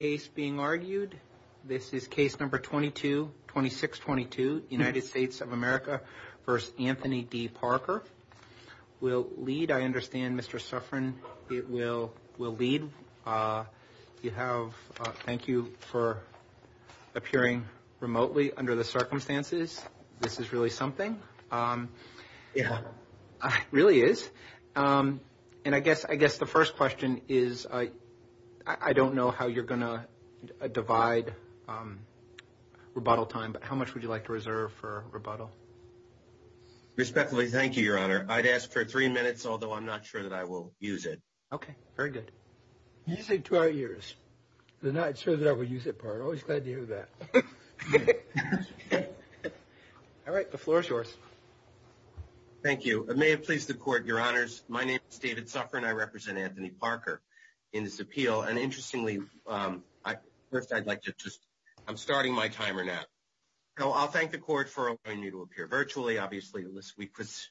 case being argued. This is case number 22 26 22 United States of America. First, Anthony D. Parker will lead. I understand Mr Suffren. It will will lead. Uh, you have. Thank you for appearing remotely under the circumstances. This is really something. Um, yeah, really is. Um, and I guess I guess the first question is, uh, I don't know how you're gonna divide, um, rebuttal time. But how much would you like to reserve for rebuttal? Respectfully. Thank you, Your Honor. I'd ask for three minutes, although I'm not sure that I will use it. Okay, very good. You say to our ears the night so that I would use it part always glad to hear that. All right. The floor is yours. Thank you. May it please the court. Your honors. My name is David Suffren. I represent Anthony Parker in this appeal. And interestingly, um, I first I'd like to just I'm starting my timer now. No, I'll thank the court for allowing you to appear virtually. Obviously, this week was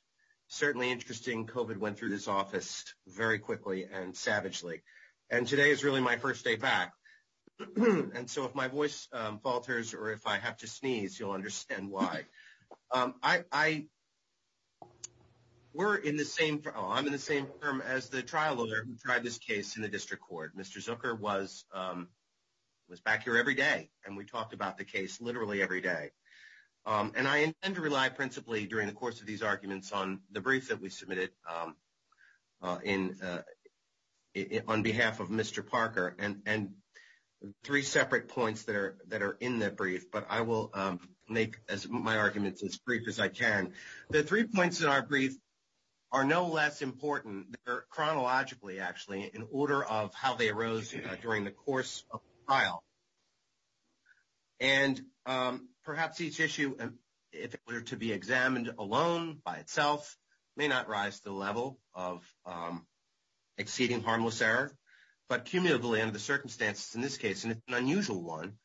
certainly interesting. Covid went through this office very quickly and savagely. And today is really my first day back. And so if my voice falters or if I have to sneeze, you'll understand why I were in the same. I'm in the same firm as the trial owner who tried this case in the district court. Mr Zucker was, um, was back here every day. And we talked about the case literally every day. Um, and I intend to rely principally during the course of these arguments on the brief that we submitted, um, uh, in, uh, on behalf of Mr Parker and three separate points that are that are in that brief. But I will make my arguments as brief as I can. The three points in our brief are no less important chronologically, actually, in order of how they arose during the course of the trial. And, um, perhaps each issue, if it were to be examined alone by itself, may not rise to the level of, um, exceeding harmless error, but cumulatively under the circumstances in this case, and it's an unusual one,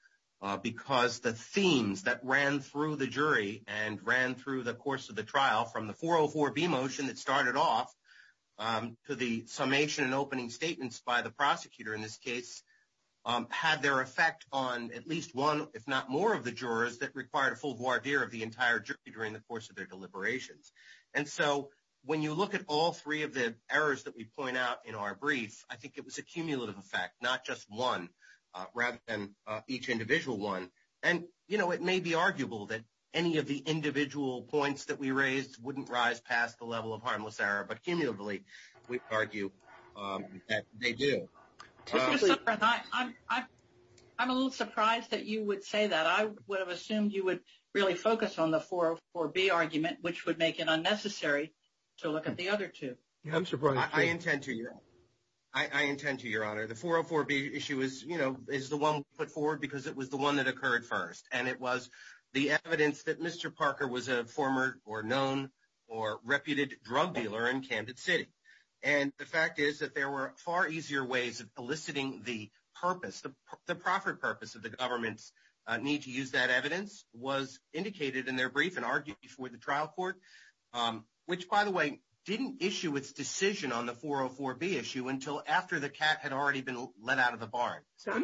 uh, because the themes that ran through the jury and ran through the course of the trial from the 404 B motion that started off, um, to the summation and opening statements by the prosecutor in this case, um, had their effect on at least one, if not more of the jurors that required a full voir dire of the entire jury during the course of their deliberations. And so when you look at all three of the errors that we point out in our brief, I think it was a cumulative effect, not just one, uh, rather than, uh, each individual one. And, you know, it may be arguable that any of the individual points that we raised wouldn't rise past the level of harmless error, but cumulatively, we argue, um, that they do. I'm, I'm, I'm a little surprised that you would say that I would have assumed you would really focus on the 404 B argument, which would make it unnecessary to look at the other two. I'm surprised. I intend to, I intend to your honor. The 404 B issue is, you know, is the one put forward because it was the one that occurred first. And it was the evidence that Mr. Parker was a former or known or reputed drug dealer in Camden city. And the fact is that there were far easier ways of eliciting the purpose, the profit purpose of the government's need to use that evidence was indicated in their brief and argued before the trial court, um, which by the way, didn't issue its decision on the 404 B issue until after the cat had already been let out of the barn.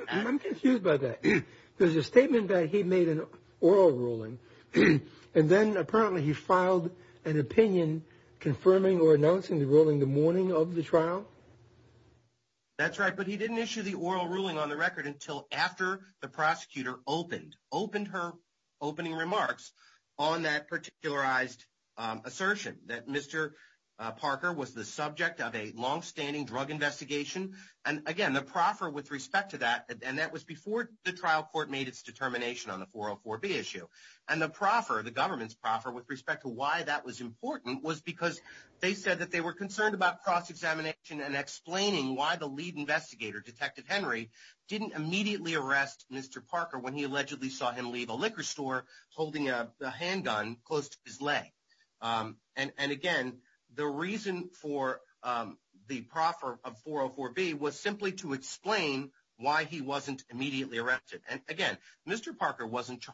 I'm confused by that. There's a statement that he made an oral ruling and then apparently he filed an opinion confirming or announcing the ruling the morning of the trial. That's right, but he didn't issue the oral ruling on the record until after the prosecutor opened, opened her opening remarks on that particularized assertion that Mr. Parker was the subject of a longstanding drug investigation. And again, the proffer with respect to that, and that was before the trial court made its determination on the 404 B issue and the proffer, the government's proffer with respect to why that was important was because they said that they were concerned about cross-examination and explaining why the lead investigator detective Henry didn't immediately arrest Mr. Parker because he was in a liquor store holding a handgun close to his leg. And again, the reason for the proffer of 404 B was simply to explain why he wasn't immediately arrested. And again, Mr. Parker wasn't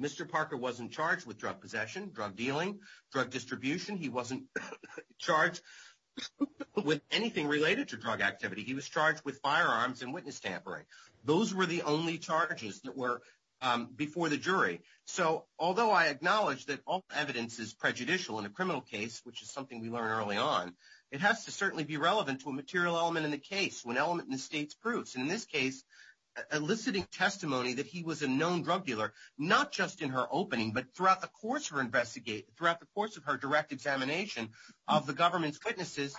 Mr. Parker wasn't charged with drug possession, drug dealing, drug distribution. He wasn't charged with anything related to drug activity. He was charged with firearms and witness tampering. Those were the only charges that were before the jury. So although I acknowledge that all evidence is prejudicial in a criminal case, which is something we learned early on, it has to certainly be relevant to a material element in the case when element in the state's proofs. In this case, eliciting testimony that he was a known drug dealer, not just in her opening, but throughout the course of her direct examination of the government's witnesses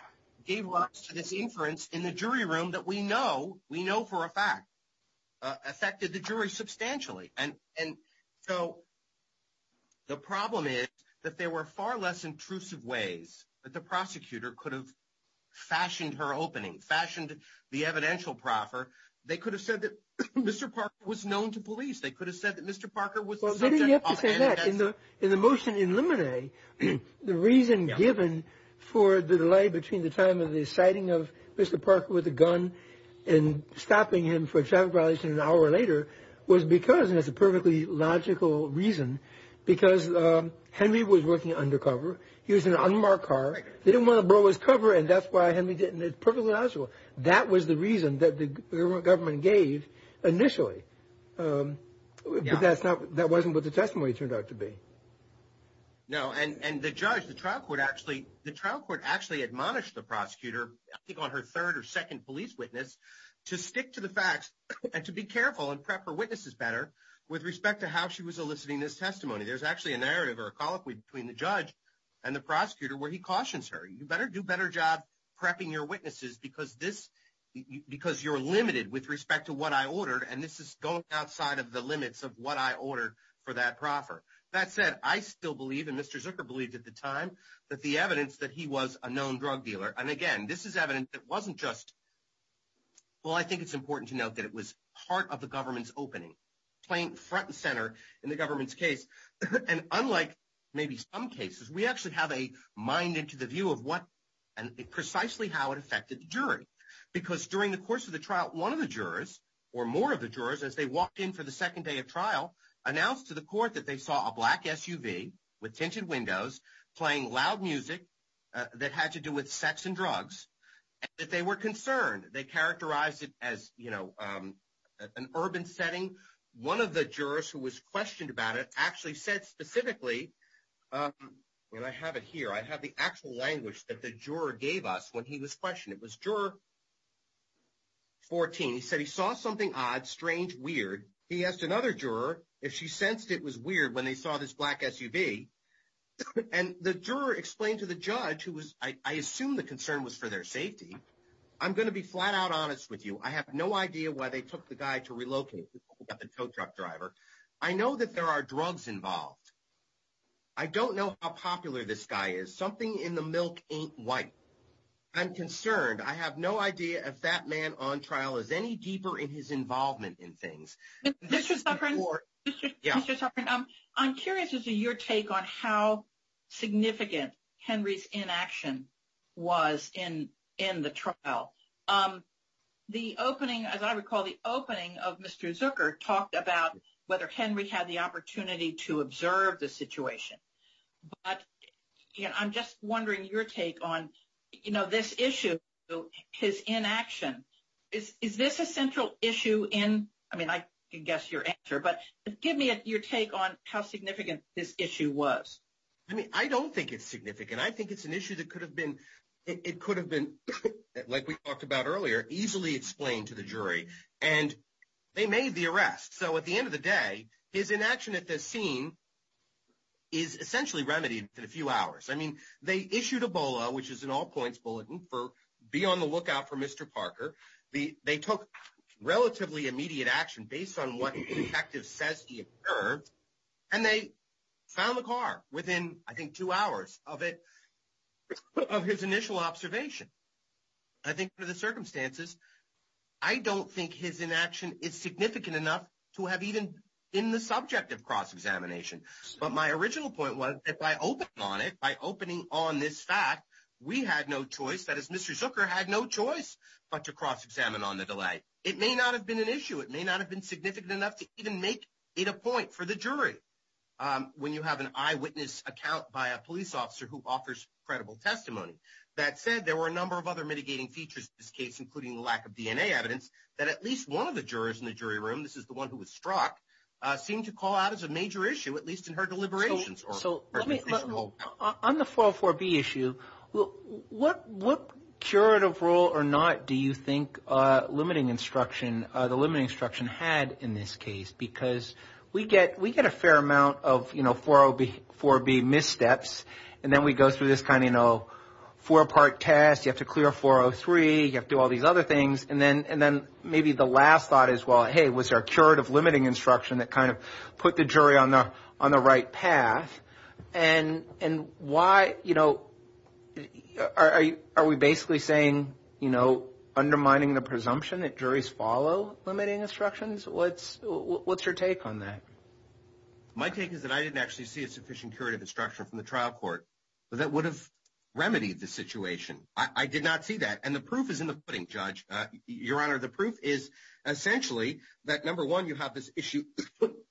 gave rise to this inference in the jury room that we know for a fact affected the jury substantially. And so the problem is that there were far less intrusive ways that the prosecutor could have fashioned her opening, fashioned the evidential proffer. They could have said that Mr. Parker was known to police. They could have said that Mr. Parker was in the in the motion in Lemonade. The reason given for the delay between the time of the citing of Mr. Parker with a gun and stopping him for a traffic violation an hour later was because there's a perfectly logical reason because Henry was working undercover. He was an unmarked car. They didn't want to blow his cover. And that's why Henry didn't. It's perfectly logical. That was the reason that the government gave initially. But that's not that wasn't what the testimony turned out to be. No, and the judge, the trial court, actually the trial court actually admonished the prosecutor on her third or second police witness to stick to the facts and to be careful and prep her witnesses better with respect to how she was eliciting this testimony. There's actually a narrative or a colloquy between the judge and the prosecutor where he cautions her. You better do better job prepping your witnesses because this because you're limited with respect to what I ordered. And this is going outside of the limits of what I ordered for that proffer. That said, I still believe in Mr. Zucker believed at the time that the evidence that he was a known drug dealer. And again, this is evidence that wasn't just. Well, I think it's important to note that it was part of the government's opening playing front and center in the government's case. And unlike maybe some cases, we actually have a mind into the view of what and precisely how it affected jury. Because during the course of the trial, one of the jurors or more of the jurors, as they walked in for the second day of trial, announced to the court that they saw a black SUV with tinted windows playing loud music that had to do with sex and drugs that they were concerned. They characterized it as an urban setting. One of the jurors who was questioned about it actually said specifically when I have it here, I have the actual language that the juror gave us when he was questioned. It was juror. 14, he said he saw something odd, strange, weird. He asked another juror if she sensed it was weird when they saw this black SUV. And the juror explained to the judge who was I assume the concern was for their safety. I'm going to be flat out honest with you. I have no idea why they took the guy to relocate the tow truck driver. I know that there are drugs involved. I don't know how popular this guy is. Something in the milk ain't white. I'm concerned. I have no idea if that man on trial is any deeper in his involvement in things. I'm curious as to your take on how significant Henry's inaction was in the trial. The opening, as I recall, the opening of Mr. Zucker talked about whether Henry had the opportunity to observe the situation. But I'm just wondering your take on this issue, his inaction. Is this a central issue in, I mean, I can guess your answer. But give me your take on how significant this issue was. I don't think it's significant. I think it's an issue that could have been, like we talked about earlier, easily explained to the jury. And they made the arrest. So at the end of the day, his inaction at this scene is essentially remedied in a few hours. I mean, they issued Ebola, which is an all points bulletin for be on the lookout for Mr. Parker. They took relatively immediate action based on what the detective says he observed. And they found the car within, I think, two hours of it, of his initial observation. I think under the circumstances, I don't think his inaction is significant enough to have even in the subject of cross examination. But my original point was, if I open on it by opening on this fact, we had no choice. That is, Mr. Zucker had no choice but to cross examine on the delay. It may not have been an issue. It may not have been significant enough to even make it a point for the jury. When you have an eyewitness account by a police officer who offers credible testimony. That said, there were a number of other mitigating features in this case, including the lack of DNA evidence that at least one of the jurors in the jury room, this is the one who was struck, seemed to call out as a major issue, at least in her deliberations. So on the 404B issue, what curative rule or not do you think limiting instruction, the limiting instruction had in this case? Because we get a fair amount of 404B missteps. And then we go through this kind of four part test. You have to clear 403. You have to do all these other things. And then maybe the last thought is, well, hey, was there a curative limiting instruction that kind of put the jury on the right path? And why, you know, are we basically saying, you know, undermining the presumption that juries follow limiting instructions? What's your take on that? My take is that I didn't actually see a sufficient curative instruction from the trial court that would have remedied the situation. I did not see that. And the proof is in the pudding, Judge. Your Honor, the proof is essentially that, number one, you have this issue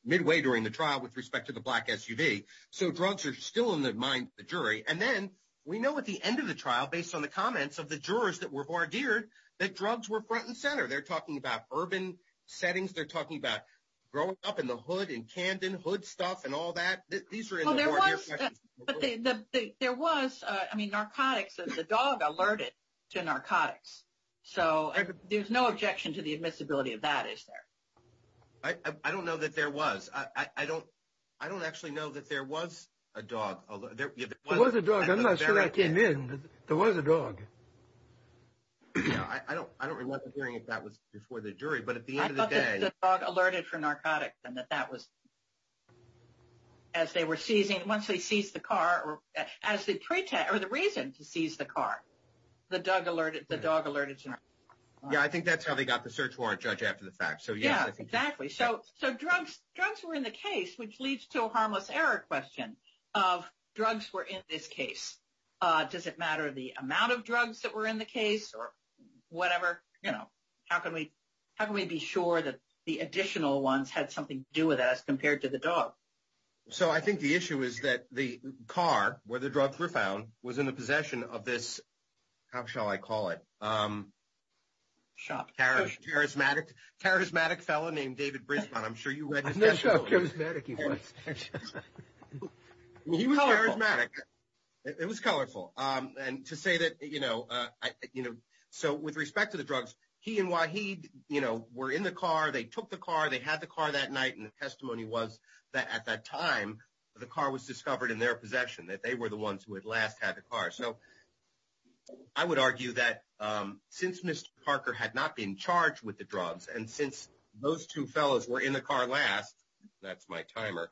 midway during the trial with respect to the black SUV. So drugs are still in the mind of the jury. And then we know at the end of the trial, based on the comments of the jurors that were barred here, that drugs were front and center. They're talking about urban settings. They're talking about growing up in the hood and Camden hood stuff and all that. There was, I mean, narcotics. The dog alerted to narcotics. So there's no objection to the admissibility of that, is there? I don't know that there was. I don't actually know that there was a dog. There was a dog. I'm not sure I came in. There was a dog. I don't remember hearing if that was before the jury. I thought the dog alerted for narcotics and that that was as they were seizing, once they seized the car, or as the reason to seize the car, the dog alerted to narcotics. Yeah, I think that's how they got the search warrant, Judge, after the fact. So, yeah. Exactly. So drugs were in the case, which leads to a harmless error question of drugs were in this case. Does it matter the amount of drugs that were in the case or whatever? How can we be sure that the additional ones had something to do with us compared to the dog? So I think the issue is that the car, where the drugs were found, was in the possession of this, how shall I call it? Shop. Charismatic fellow named David Brisbane. I'm sure you read his testimony. I know how charismatic he was. He was charismatic. It was colorful. And to say that, you know, so with respect to the drugs, he and why he were in the car, they took the car, they had the car that night. And the testimony was that at that time, the car was discovered in their possession, that they were the ones who had last had the car. So I would argue that since Mr. Parker had not been charged with the drugs, and since those two fellows were in the car last, that's my timer,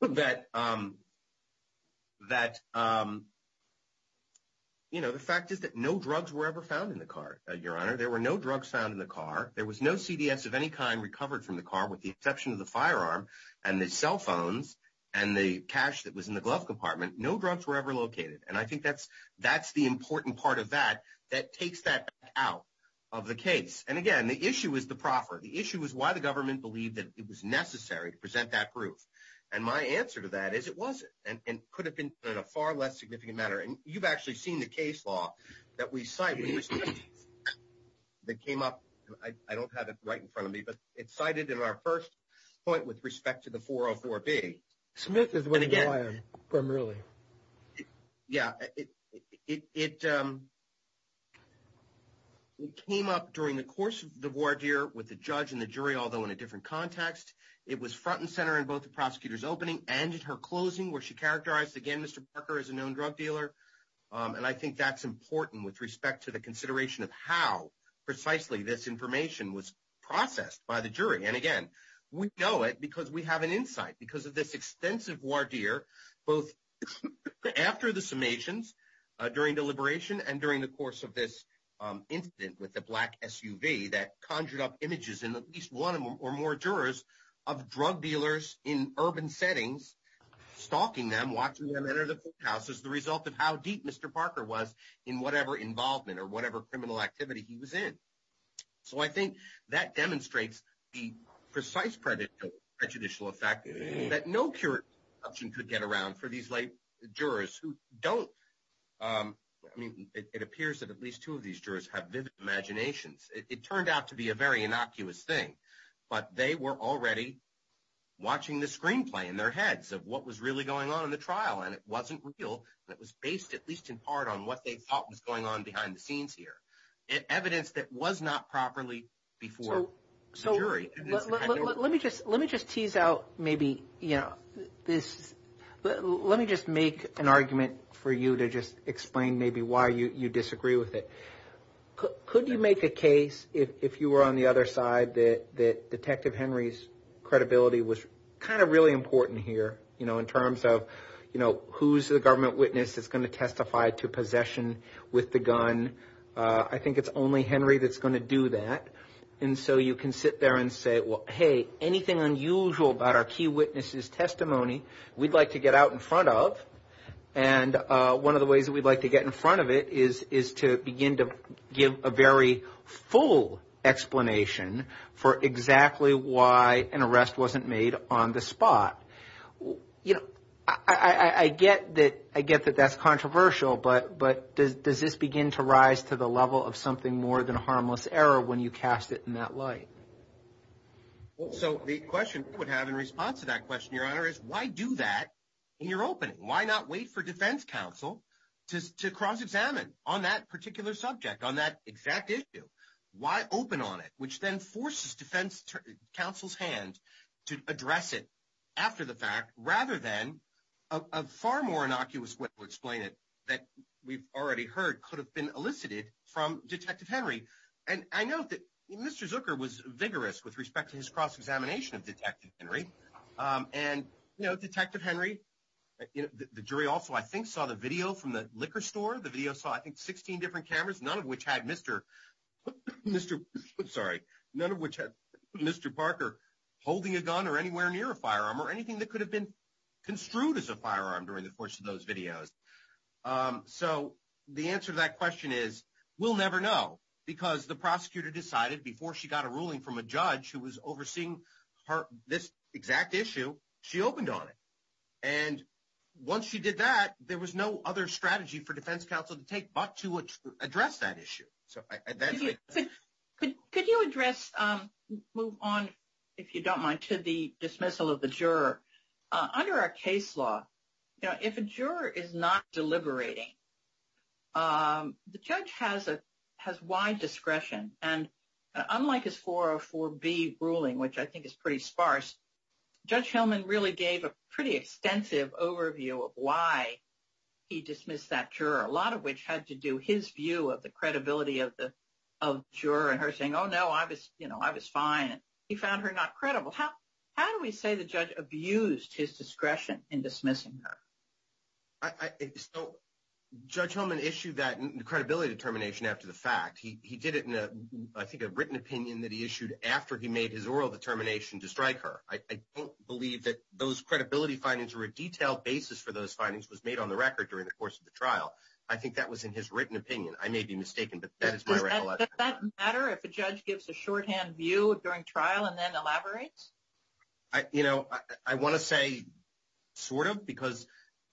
that, you know, the fact is that no drugs were ever found in the car, Your Honor. There were no drugs found in the car. There was no CDS of any kind recovered from the car with the exception of the firearm and the cell phones and the cash that was in the glove compartment. No drugs were ever located. And I think that's the important part of that, that takes that out of the case. And again, the issue is the proffer. The issue is why the government believed that it was necessary to present that proof. And my answer to that is it wasn't and could have been in a far less significant matter. And you've actually seen the case law that we cite that came up. I don't have it right in front of me, but it's cited in our first point with respect to the 404B. Smith is when again, primarily. Yeah, it came up during the course of the voir dire with the judge and the jury, although in a different context, it was front and center in both the prosecutor's opening and in her closing where she characterized again, Mr. Parker is a known drug dealer. And I think that's important with respect to the consideration of how precisely this information was processed by the jury. And again, we know it because we have an insight because of this extensive voir dire, both after the summations during deliberation and during the course of this incident with the black SUV that conjured up images in at least one or more jurors of drug dealers in urban settings, stalking them, watching them enter the courthouse as the result of how deep Mr. Parker was in whatever involvement or whatever criminal activity he was in. So I think that demonstrates the precise prejudicial effect that no juror could get around for these jurors who don't. I mean, it appears that at least two of these jurors have vivid imaginations. It turned out to be a very innocuous thing, but they were already watching the screenplay in their heads of what was really going on in the trial. And it wasn't real. It was based, at least in part, on what they thought was going on behind the scenes here. Evidence that was not properly before the jury. Let me just tease out maybe, you know, let me just make an argument for you to just explain maybe why you disagree with it. Could you make a case if you were on the other side that Detective Henry's credibility was kind of really important here, you know, in terms of, you know, who's the government witness that's going to testify to possession with the gun? I think it's only Henry that's going to do that. And so you can sit there and say, well, hey, anything unusual about our key witnesses testimony we'd like to get out in front of. And one of the ways that we'd like to get in front of it is to begin to give a very full explanation for exactly why an arrest wasn't made on the spot. You know, I get that. I get that that's controversial, but does this begin to rise to the level of something more than a harmless error when you cast it in that light? So the question I would have in response to that question, Your Honor, is why do that in your opening? Why not wait for defense counsel to cross-examine on that particular subject, on that exact issue? Why open on it, which then forces defense counsel's hand to address it after the fact rather than a far more innocuous way to explain it that we've already heard could have been from Detective Henry. And I know that Mr. Zucker was vigorous with respect to his cross-examination of Detective Henry. And, you know, Detective Henry, the jury also, I think, saw the video from the liquor store. The video saw, I think, 16 different cameras, none of which had Mr. Parker holding a gun or anywhere near a firearm or anything that could have been construed as a firearm during the course of those videos. So the answer to that question is we'll never know because the prosecutor decided before she got a ruling from a judge who was overseeing this exact issue, she opened on it. And once she did that, there was no other strategy for defense counsel to take but to address that issue. So that's it. Could you address, move on, if you don't mind, to the dismissal of the juror? Under our case law, you know, if a juror is not deliberating, the judge has wide discretion. And unlike his 404B ruling, which I think is pretty sparse, Judge Hillman really gave a pretty extensive overview of why he dismissed that juror, a lot of which had to do his view of the credibility of the juror and her saying, oh, no, I was, you know, I was fine. He found her not credible. How do we say the judge abused his discretion in dismissing her? So Judge Hillman issued that credibility determination after the fact. He did it in, I think, a written opinion that he issued after he made his oral determination to strike her. I don't believe that those credibility findings or a detailed basis for those findings was made on the record during the course of the trial. I think that was in his written opinion. I may be mistaken, but that is my recollection. Does that matter if a judge gives a shorthand view during trial and then elaborates? You know, I want to say sort of, because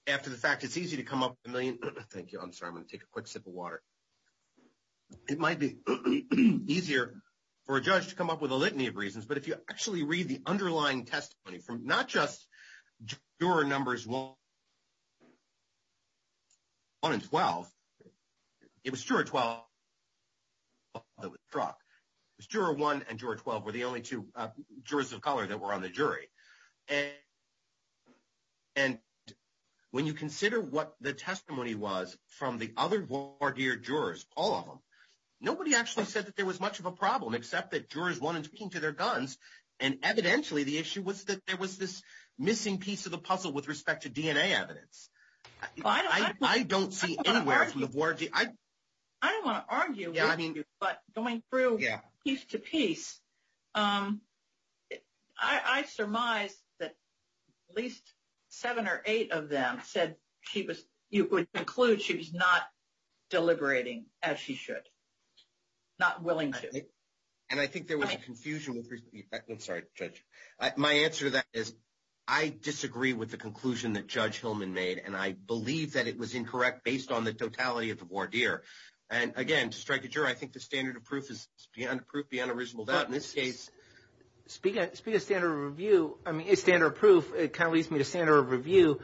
after the fact, it's easy to come up with a million. Thank you. I'm sorry. I'm going to take a quick sip of water. It might be easier for a judge to come up with a litany of reasons, but if you actually read the underlying testimony from not just juror numbers 1 and 12, it was juror 12 that was struck. Juror 1 and juror 12 were the only two jurors of color that were on the jury. And when you consider what the testimony was from the other voir dire jurors, all of them, nobody actually said that there was much of a problem, except that jurors wanted to speak to their guns. And evidentially, the issue was that there was this missing piece of the puzzle with respect to DNA evidence. I don't see anywhere from the voir dire. I don't want to argue with you. But going through piece to piece, I surmise that at least seven or eight of them said she was, you could conclude she was not deliberating as she should, not willing to. And I think there was a confusion with, I'm sorry, Judge. My answer to that is I disagree with the conclusion that Judge Hillman made. And I believe that it was incorrect based on the totality of the voir dire. And again, to strike a juror, I think the standard of proof is beyond proof, beyond a reasonable doubt. In this case, speaking of standard of review, I mean, standard of proof, it kind of leads me to standard of review.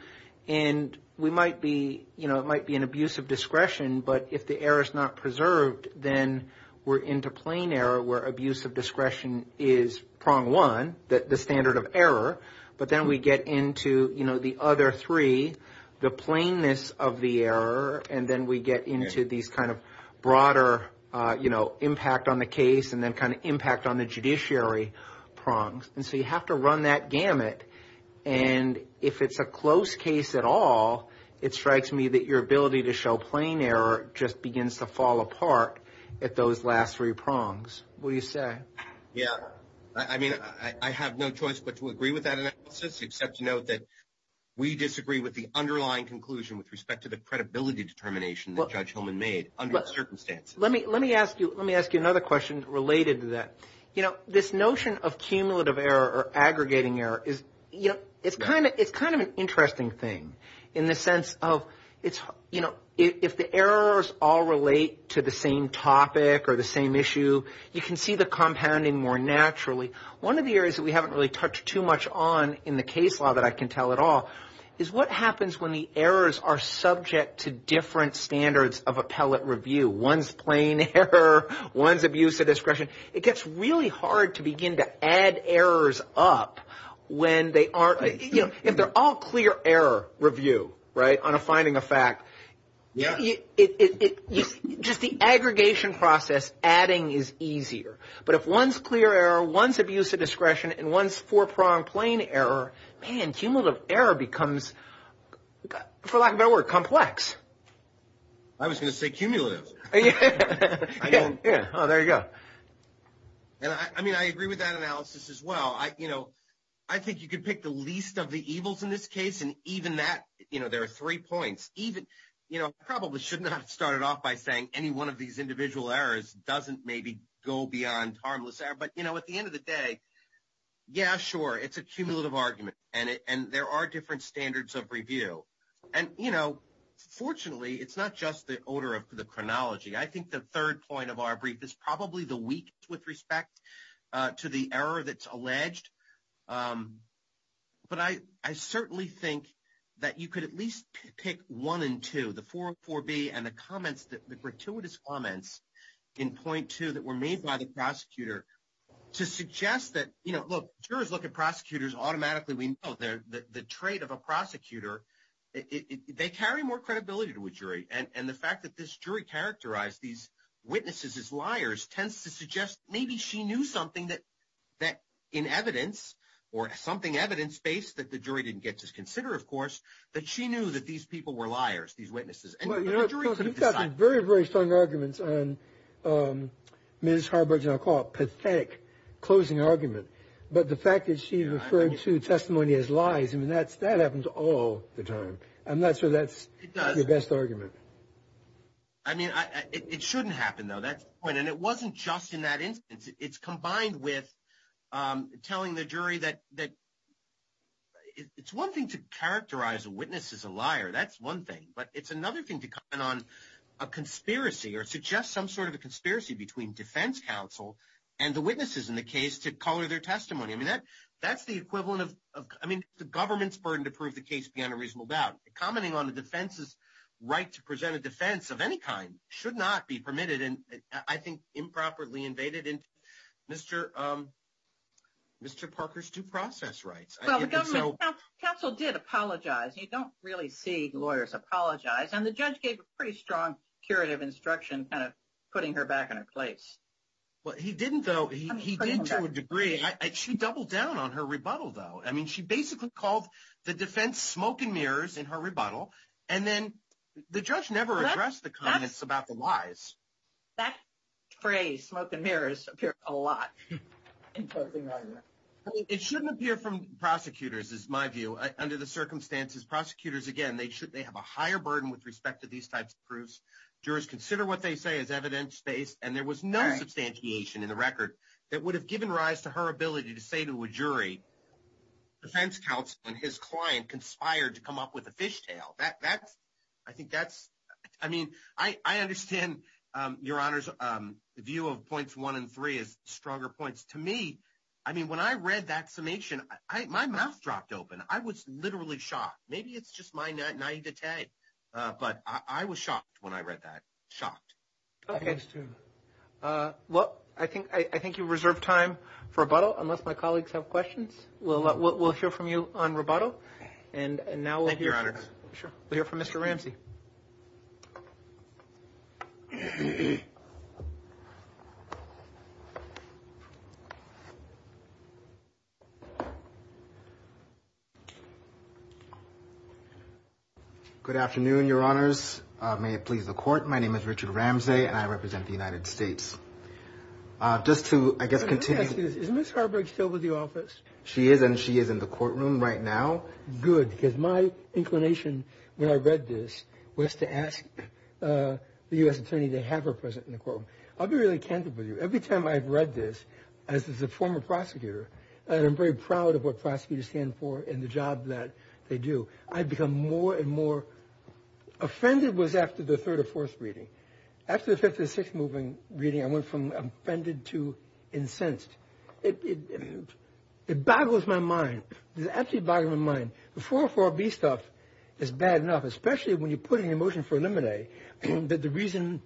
And we might be, you know, it might be an abuse of discretion. But if the error is not preserved, then we're into plain error, where abuse of discretion is prong one, the standard of error. But then we get into, you know, the other three, the plainness of the error. And then we get into these kind of broader, you know, impact on the case and then kind of impact on the judiciary prongs. And so you have to run that gamut. And if it's a close case at all, it strikes me that your ability to show plain error just begins to fall apart at those last three prongs. What do you say? Yeah, I mean, I have no choice but to agree with that analysis, except to note that we disagree with the underlying conclusion with respect to the credibility determination that Judge Hillman made under the circumstances. Let me ask you another question related to that. You know, this notion of cumulative error or aggregating error is, you know, it's kind of an interesting thing in the sense of it's, you know, if the errors all relate to the same topic or the same issue, you can see the compounding more naturally. One of the areas that we haven't really touched too much on in the case law that I can tell at all is what happens when the errors are subject to different standards of appellate review. One's plain error, one's abuse of discretion. It gets really hard to begin to add errors up when they aren't, you know, if they're all clear error review, right, on a finding of fact, just the aggregation process adding is easier. But if one's clear error, one's abuse of discretion, and one's four-pronged plain error, man, cumulative error becomes, for lack of a better word, complex. I was going to say cumulative. Yeah, oh, there you go. And I mean, I agree with that analysis as well. I, you know, I think you could pick the least of the evils in this case. And even that, you know, there are three points. Even, you know, I probably should not have started off by saying any one of these individual errors doesn't maybe go beyond harmless error. But, you know, at the end of the day, yeah, sure, it's a cumulative argument. And there are different standards of review. And, you know, fortunately, it's not just the order of the chronology. I think the third point of our brief is probably the weakest with respect to the error that's alleged. But I certainly think that you could at least pick one and two, the 404B and the comments, the gratuitous comments in point two that were made by the prosecutor to suggest that, you know, look, jurors look at prosecutors automatically. We know the trait of a prosecutor. They carry more credibility to a jury. And the fact that this jury characterized these witnesses as liars tends to suggest maybe she knew something that in evidence or something evidence-based that the jury didn't get to consider, of course, that she knew that these people were liars, these witnesses. You've got some very, very strong arguments on Ms. Harberge and I'll call it pathetic closing argument. But the fact that she referred to testimony as lies, I mean, that happens all the time. I'm not sure that's the best argument. I mean, it shouldn't happen, though. That's the point. And it wasn't just in that instance. It's combined with telling the jury that it's one thing to characterize a witness as a liar. That's one thing. But it's another thing to comment on a conspiracy or suggest some sort of a conspiracy between defense counsel and the witnesses in the case to color their testimony. I mean, that's the equivalent of, I mean, the government's burden to prove the case beyond a reasonable doubt. Commenting on the defense's right to present a defense of any kind should not be permitted and I think improperly invaded into Mr. Parker's due process rights. The government counsel did apologize. You don't really see lawyers apologize and the judge gave a pretty strong curative instruction kind of putting her back in her place. Well, he didn't, though. He did to a degree. She doubled down on her rebuttal, though. I mean, she basically called the defense smoke and mirrors in her rebuttal and then the judge never addressed the comments about the lies. That phrase, smoke and mirrors, appeared a lot in closing argument. It shouldn't appear from prosecutors, is my view. Under the circumstances, prosecutors, again, they have a higher burden with respect to these types of proofs. Jurors consider what they say as evidence-based and there was no substantiation in the record that would have given rise to her ability to say to a jury, defense counsel and his client conspired to come up with a fishtail. I think that's, I mean, I understand, Your Honors, the view of points one and three as stronger points. To me, I mean, when I read that summation, my mouth dropped open. I was literally shocked. Maybe it's just my 90 to 10, but I was shocked when I read that. Shocked. Okay. Well, I think you reserve time for rebuttal unless my colleagues have questions. We'll hear from you on rebuttal and now we'll hear from Mr. Ramsey. Good afternoon, Your Honors. May it please the court. My name is Richard Ramsey and I represent the United States. Just to, I guess, continue. Is Ms. Harberg still with the office? She is and she is in the courtroom right now. Good, because my inclination when I read this was to ask the U.S. Attorney to have her present in the courtroom. I'll be really candid with you. Every time I've read this, as a former prosecutor, and I'm very proud of what prosecutors stand for and the job that they do, I become more and more. Offended was after the third or fourth reading. After the fifth or sixth reading, I went from offended to incensed. It boggles my mind. It absolutely boggles my mind. The 404B stuff is bad enough, especially when you put in your motion for eliminate, that the reason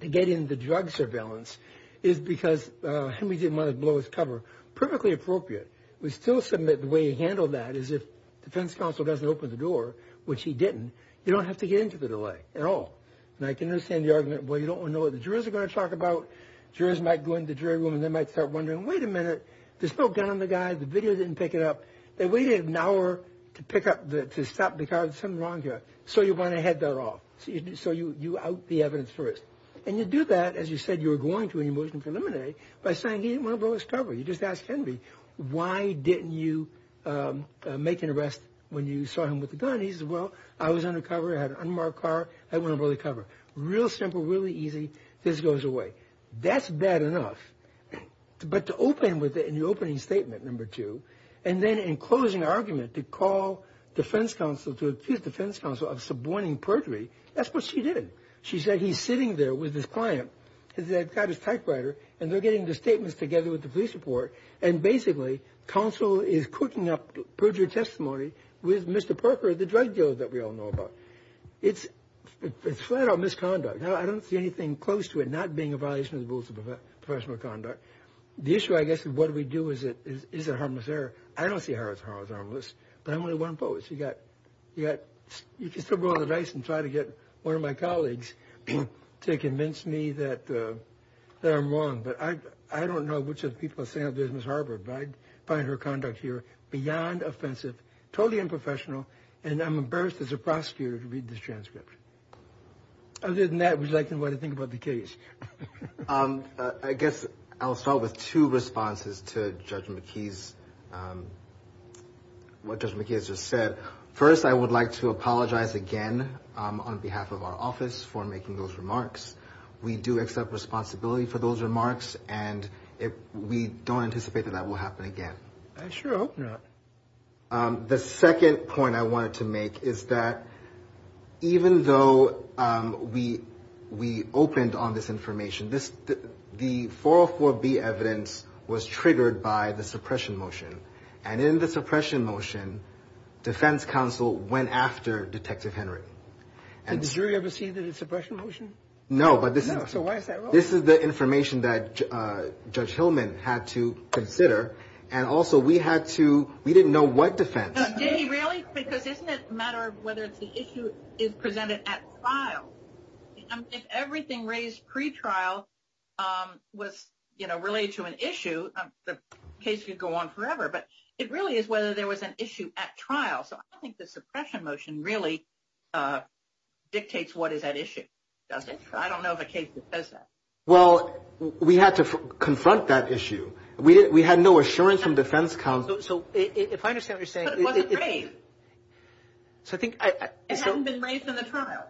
to get into drug surveillance is because Henry didn't want to blow his cover. Perfectly appropriate. We still submit the way he handled that is if defense counsel doesn't open the door, which he didn't, you don't have to get into the delay at all. And I can understand the argument, well, you don't want to know what the jurors are going to talk about. Jurors might go into the jury room and they might start wondering, wait a minute, there's no gun on the guy. The video didn't pick it up. They waited an hour to pick up, to stop because there's something wrong here. So you want to head that off. So you out the evidence first. And you do that, as you said you were going to in your motion for eliminate, by saying he didn't want to blow his cover. You just ask Henry, why didn't you make an arrest when you saw him with the gun? He says, well, I was undercover. I had an unmarked car. I didn't want to blow the cover. Real simple, really easy. This goes away. That's bad enough. But to open with it in your opening statement, number two, and then in closing argument to call defense counsel to accuse defense counsel of suborning perjury, that's what she did. She said he's sitting there with his client. He's got his typewriter. And they're getting the statements together with the police report. And basically, counsel is cooking up perjury testimony with Mr. Perker, the drug dealer that we all know about. It's flat out misconduct. Now, I don't see anything close to it not being a violation of the rules of professional conduct. The issue, I guess, is what do we do? Is it harmless error? I don't see it as harmless. But I'm only one post. You can still roll the dice and try to get one of my colleagues to convince me that I'm wrong. But I don't know which of the people at Santa Dismas Harbor find her conduct here beyond offensive, totally unprofessional. And I'm embarrassed as a prosecutor to read this transcript. Other than that, would you like to know what I think about the case? I guess I'll start with two responses to what Judge McKee has just said. First, I would like to apologize again on behalf of our office for making those remarks. We do accept responsibility for those remarks. And we don't anticipate that that will happen again. I sure hope not. The second point I wanted to make is that even though we opened on this information, the 404B evidence was triggered by the suppression motion. And in the suppression motion, defense counsel went after Detective Henry. Did the jury ever see the suppression motion? No, but this is the information that Judge Hillman had to consider. And also, we didn't know what defense. Did he really? Because isn't it a matter of whether the issue is presented at trial? If everything raised pre-trial was related to an issue, the case could go on forever. But it really is whether there was an issue at trial. So I think the suppression motion really dictates what is at issue, doesn't it? I don't know of a case that says that. Well, we had to confront that issue. We had no assurance from defense counsel. So if I understand what you're saying... But it wasn't raised. So I think... It hasn't been raised in the trial.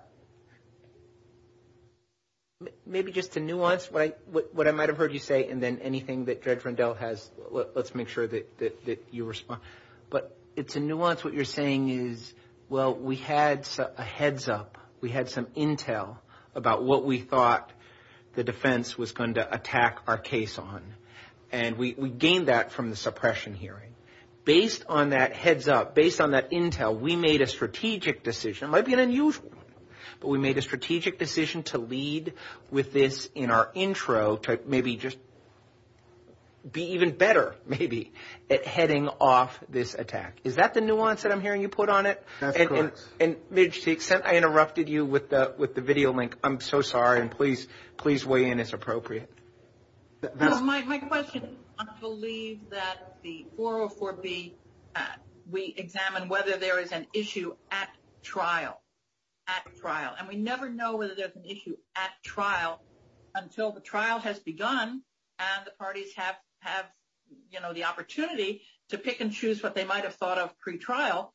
Maybe just to nuance what I might have heard you say, and then anything that Judge Rendell has, let's make sure that you respond. But to nuance what you're saying is, well, we had a heads up. We had some intel about what we thought the defense was going to attack our case on. And we gained that from the suppression hearing. Based on that heads up, based on that intel, we made a strategic decision. It might be an unusual one. But we made a strategic decision to lead with this in our intro to maybe just be even better, maybe, at heading off this attack. Is that the nuance that I'm hearing you put on it? That's correct. And to the extent I interrupted you with the video link, I'm so sorry. And please weigh in as appropriate. Well, my question is, I believe that the 404B, we examine whether there is an issue at trial. At trial. And we never know whether there's an issue at trial until the trial has begun. And the parties have the opportunity to pick and choose what they might have thought of pre-trial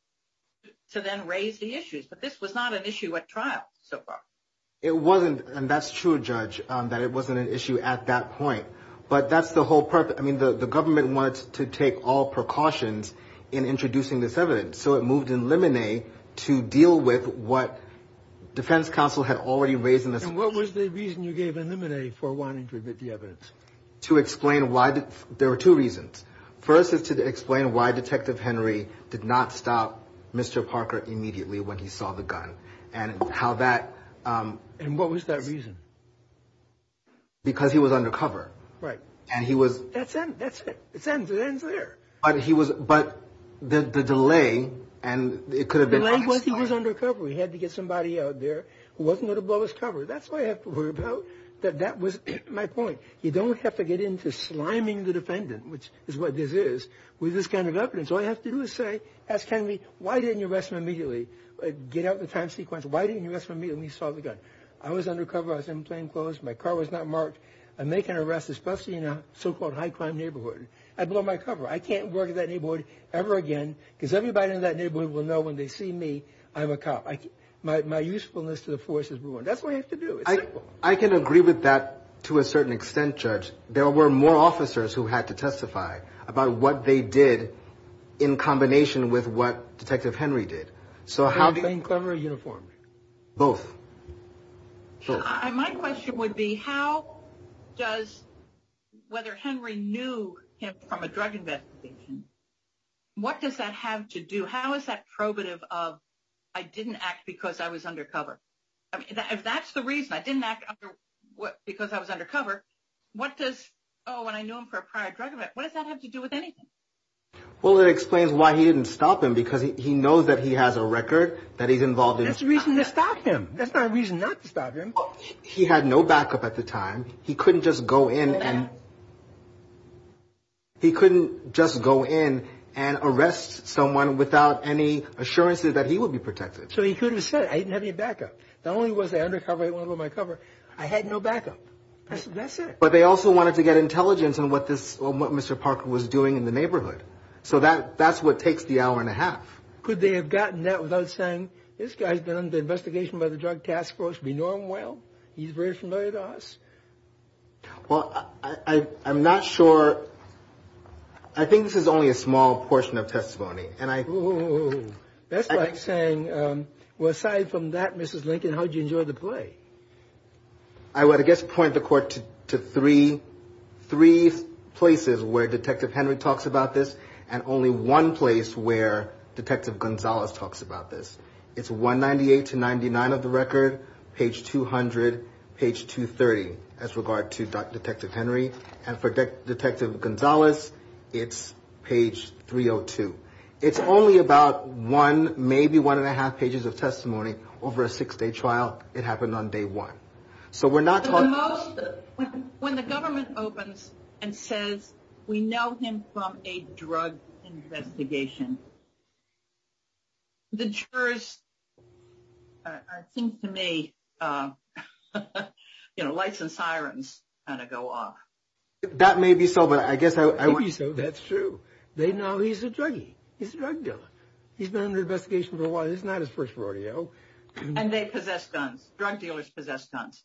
to then raise the issues. But this was not an issue at trial so far. It wasn't. And that's true, Judge, that it wasn't an issue at that point. But that's the whole purpose. I mean, the government wants to take all precautions in introducing this evidence. So it moved in limine to deal with what defense counsel had already raised in this case. And what was the reason you gave in limine for wanting to admit the evidence? To explain why. There were two reasons. First is to explain why Detective Henry did not stop Mr. Parker immediately when he saw the gun. And how that. And what was that reason? Because he was undercover. Right. And he was. That's it. It ends there. But he was. But the delay. And it could have been. The delay was he was undercover. He had to get somebody out there who wasn't going to blow his cover. That's what I have to worry about. That was my point. You don't have to get into sliming the defendant, which is what this is, with this kind of evidence. All you have to do is say, ask Henry, why didn't you arrest him immediately? Get out the time sequence. Why didn't you arrest him immediately when he saw the gun? I was undercover. I was in plainclothes. My car was not marked. I make an arrest, especially in a so-called high crime neighborhood. I blow my cover. I can't work in that neighborhood ever again because everybody in that neighborhood will know when they see me, I'm a cop. My usefulness to the force is ruined. That's what you have to do. I can agree with that to a certain extent, Judge. There were more officers who had to testify about what they did in combination with what Detective Henry did. So how do you... In plainclothes or uniform? Both. My question would be, how does... Whether Henry knew him from a drug investigation, what does that have to do? How is that probative of, I didn't act because I was undercover? I mean, if that's the reason, I didn't act because I was undercover, what does... Oh, and I knew him for a prior drug event. What does that have to do with anything? Well, it explains why he didn't stop him because he knows that he has a record that he's involved in. That's the reason to stop him. That's not a reason not to stop him. He had no backup at the time. He couldn't just go in and... He couldn't just go in and arrest someone without any assurances that he would be protected. So he could have said, I didn't have any backup. Not only was I undercover, I blew my cover, I had no backup. That's it. But they also wanted to get intelligence on what Mr. Parker was doing in the neighborhood. So that's what takes the hour and a half. Could they have gotten that without saying, this guy's been under investigation by the Drug Task Force, we know him well. He's very familiar to us. Well, I'm not sure. I think this is only a small portion of testimony and I... That's like saying, well, aside from that, Mrs. Lincoln, how'd you enjoy the play? I would, I guess, point the court to three places where Detective Henry talks about this and only one place where Detective Gonzalez talks about this. It's 198 to 99 of the record, page 200, page 230 as regard to Detective Henry. And for Detective Gonzalez, it's page 302. It's only about one, maybe one and a half pages of testimony over a six-day trial. It happened on day one. When the government opens and says, we know him from a drug investigation, the jurors, I think to me, lights and sirens kind of go off. That may be so, but I guess... That's true. They know he's a druggie. He's a drug dealer. He's been under investigation for a while. This is not his first rodeo. And they possess guns. Drug dealers possess guns.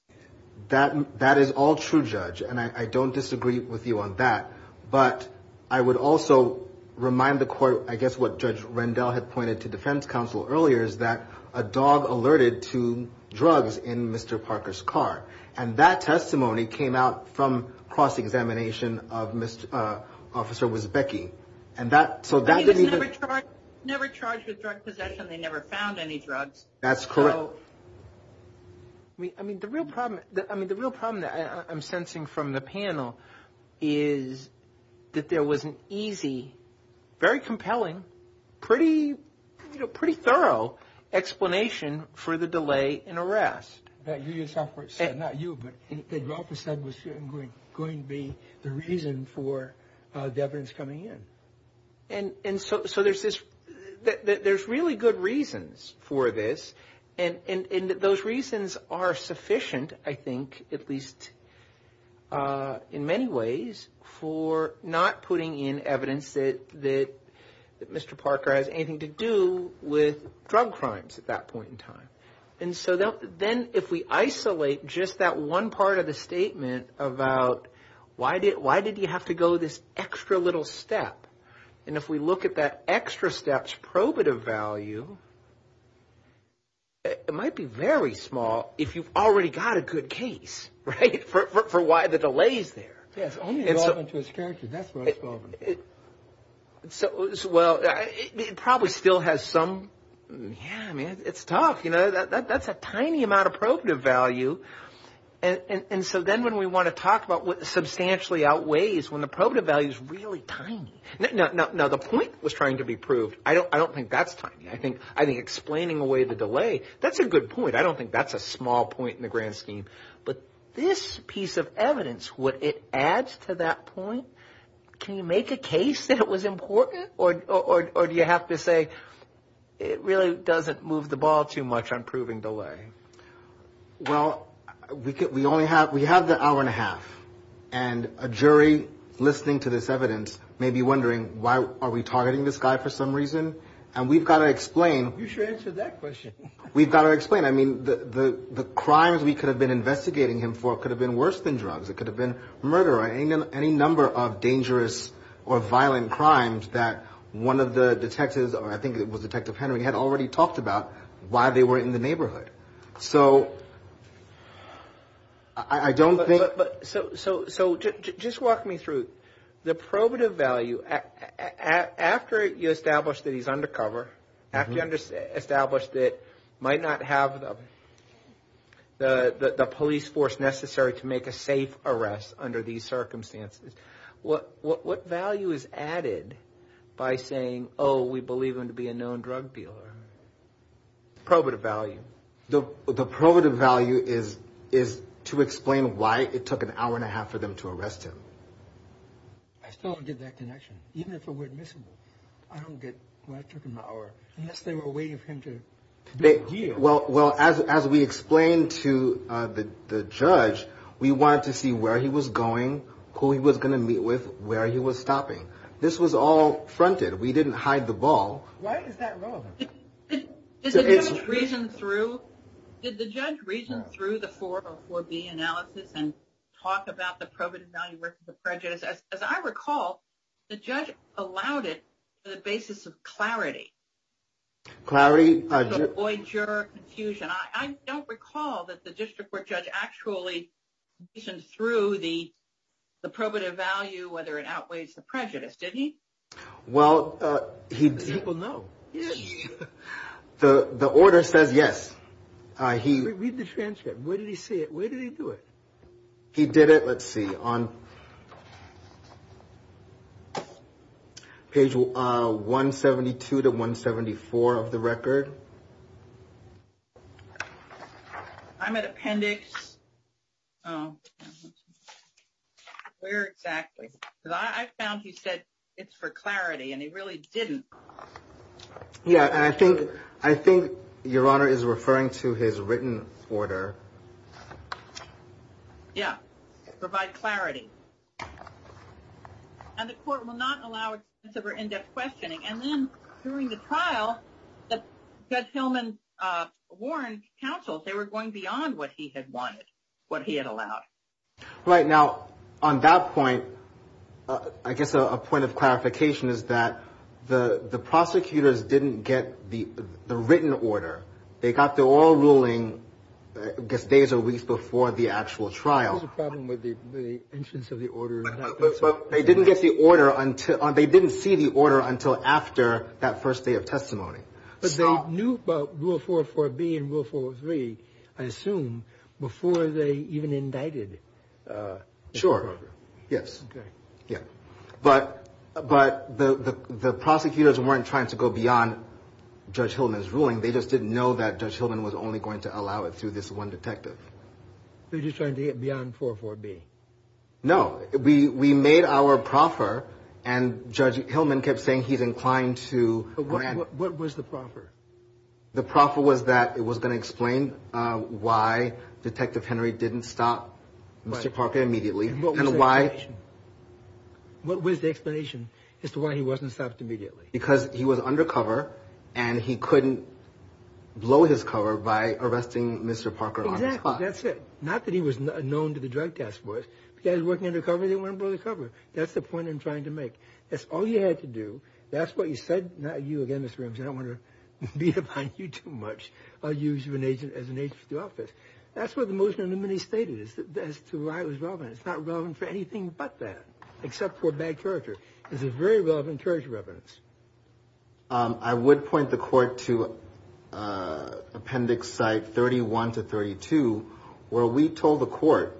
That is all true, Judge. And I don't disagree with you on that. But I would also remind the court, I guess, what Judge Rendell had pointed to defense counsel earlier is that a dog alerted to drugs in Mr. Parker's car. And that testimony came out from cross-examination of Mr. Officer Wiesbecki. And that, so that... He was never charged with drug possession. They never found any drugs. That's correct. I mean, the real problem that I'm sensing from the panel is that there was an easy, very compelling, pretty thorough explanation for the delay in arrest. That you yourself said, not you, but that you also said was going to be the reason for the evidence coming in. And so there's really good reasons for this. And those reasons are sufficient, I think, at least in many ways, for not putting in evidence that Mr. Parker has anything to do with drug crimes at that point in time. And so then if we isolate just that one part of the statement about why did you have to extra little step? And if we look at that extra step's probative value, it might be very small if you've already got a good case, right, for why the delay is there. Yes, only 11 to his character. That's what it's called. Well, it probably still has some... Yeah, I mean, it's tough. You know, that's a tiny amount of probative value. And so then when we want to talk about what substantially outweighs when the probative value is really tiny. Now, the point was trying to be proved. I don't think that's tiny. I think explaining away the delay, that's a good point. I don't think that's a small point in the grand scheme. But this piece of evidence, what it adds to that point, can you make a case that it was important? Or do you have to say it really doesn't move the ball too much on proving delay? Well, we have the hour and a half, and a jury listening to this evidence may be wondering why are we targeting this guy for some reason? And we've got to explain... You should answer that question. We've got to explain. I mean, the crimes we could have been investigating him for could have been worse than drugs. It could have been murder or any number of dangerous or violent crimes that one of the detectives, or I think it was Detective Henry, had already talked about why they weren't in the neighborhood. So I don't think... But so just walk me through. The probative value, after you establish that he's undercover, after you establish that might not have the police force necessary to make a safe arrest under these circumstances, what value is added by saying, oh, we believe him to be a known drug dealer? Probative value. The probative value is to explain why it took an hour and a half for them to arrest him. I still don't get that connection, even if it were admissible. I don't get why it took an hour, unless they were waiting for him to do a deal. Well, as we explained to the judge, we wanted to see where he was going, who he was going to meet with, where he was stopping. This was all fronted. We didn't hide the ball. Why is that relevant? Did the judge reason through the 404B analysis and talk about the probative value versus the prejudice? As I recall, the judge allowed it on the basis of clarity. Clarity. To avoid juror confusion. I don't recall that the district court judge actually reasoned through the probative value, whether it outweighs the prejudice, did he? Well, he... People know. The order says yes. He... Read the transcript. Where did he see it? Where did he do it? He did it, let's see, on page 172 to 174 of the record. I'm at appendix... Where exactly? I found he said it's for clarity, and he really didn't. Yeah, and I think, I think Your Honor is referring to his written order. Yeah, provide clarity. And the court will not allow it for in-depth questioning. And then, during the trial, Judge Hillman warned counsels they were going beyond what he had wanted, what he had allowed. Right, now, on that point, I guess a point of clarification is that the... The prosecutors didn't get the written order. They got the oral ruling, I guess, days or weeks before the actual trial. There's a problem with the instance of the order. But they didn't get the order until... They didn't see the order until after that first day of testimony. But they knew about Rule 404B and Rule 403, I assume, before they even indicted. Sure, yes. Yeah. But the prosecutors weren't trying to go beyond Judge Hillman's ruling. They just didn't know that Judge Hillman was only going to allow it through this one detective. They're just trying to get beyond 404B. No, we made our proffer, and Judge Hillman kept saying he's inclined to... What was the proffer? The proffer was that it was going to explain why Detective Henry didn't stop Mr. Parker immediately, and why... What was the explanation as to why he wasn't stopped immediately? Because he was undercover, and he couldn't blow his cover by arresting Mr. Parker on the spot. Exactly, that's it. Not that he was known to the Drug Task Force. If a guy's working undercover, they want to blow the cover. That's the point I'm trying to make. That's all you had to do. That's what you said. Now, you again, Mr. Ramsey, I don't want to beat about you too much. I'll use you as an agent for the office. That's what the motion of the minute stated, as to why it was relevant. It's not relevant for anything but that, except for bad character. It's a very relevant character evidence. I would point the court to Appendix Site 31 to 32, where we told the court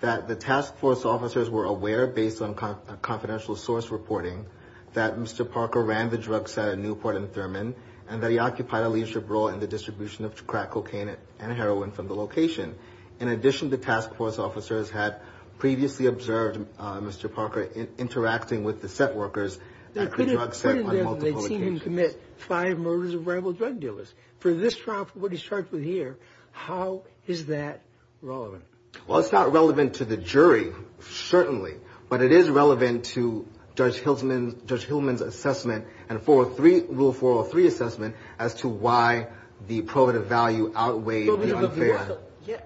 that the Task Force officers were aware, based on confidential source reporting, that Mr. Parker ran the drugs at a Newport and Thurman, and that he occupied a leadership role in the distribution of crack cocaine and heroin from the location. In addition, the Task Force officers had previously observed Mr. Parker interacting with the set workers at the drug set on multiple occasions. They'd seen him commit five murders of rival drug dealers. For this trial, for what he's charged with here, how is that relevant? Well, it's not relevant to the jury, certainly, but it is relevant to Judge Hillman's assessment and Rule 403 assessment, as to why the prohibitive value outweighed the unfair. Yeah,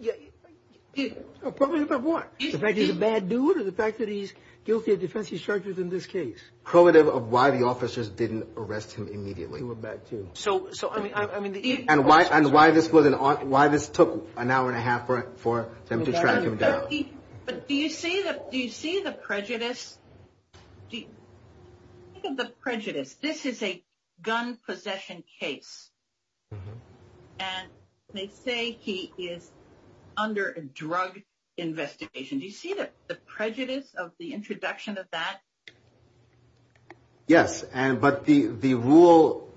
yeah. Prohibitive of what? The fact that he's a bad dude, or the fact that he's guilty of defensive charges in this case? Prohibitive of why the officers didn't arrest him immediately. They were back to... And why this took an hour and a half for them to track him down. But do you see the prejudice? Do you think of the prejudice? This is a gun possession case, and they say he is under a drug investigation. Do you see the prejudice of the introduction of that? Yes, but the rule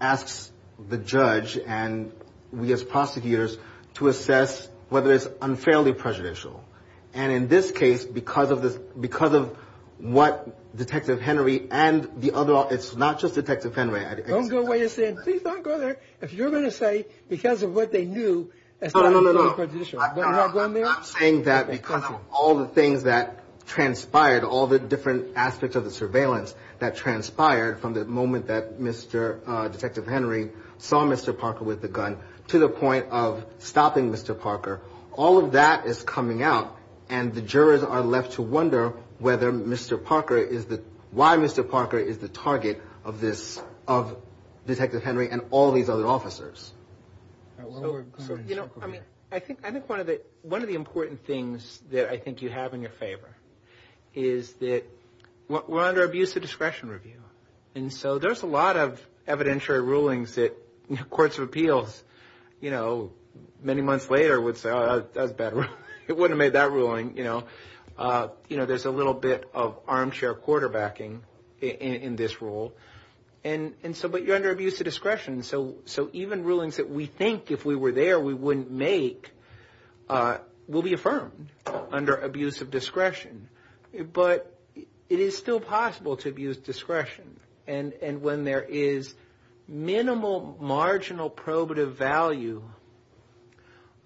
asks the judge, and we as prosecutors, to assess whether it's unfairly prejudicial. And in this case, because of what Detective Henry and the other... It's not just Detective Henry. Don't go where you're sitting. Please don't go there. If you're going to say, because of what they knew... No, no, no, no, no. I'm saying that because of all the things that transpired, all the different aspects of the surveillance that transpired from the moment that Detective Henry saw Mr. Parker with the gun to the point of stopping Mr. Parker. All of that is coming out, and the jurors are left to wonder whether Mr. Parker is the... Why Mr. Parker is the target of this... Of Detective Henry and all these other officers. I think one of the important things that I think you have in your favor is that we're under abuse of discretion review. And so there's a lot of evidentiary rulings that courts of appeals, many months later, would say, oh, that was a bad ruling. It wouldn't have made that ruling. There's a little bit of armchair quarterbacking in this rule, but you're under abuse of discretion. So even rulings that we think, if we were there, we wouldn't make will be affirmed under abuse of discretion, but it is still possible to abuse discretion. And when there is minimal marginal probative value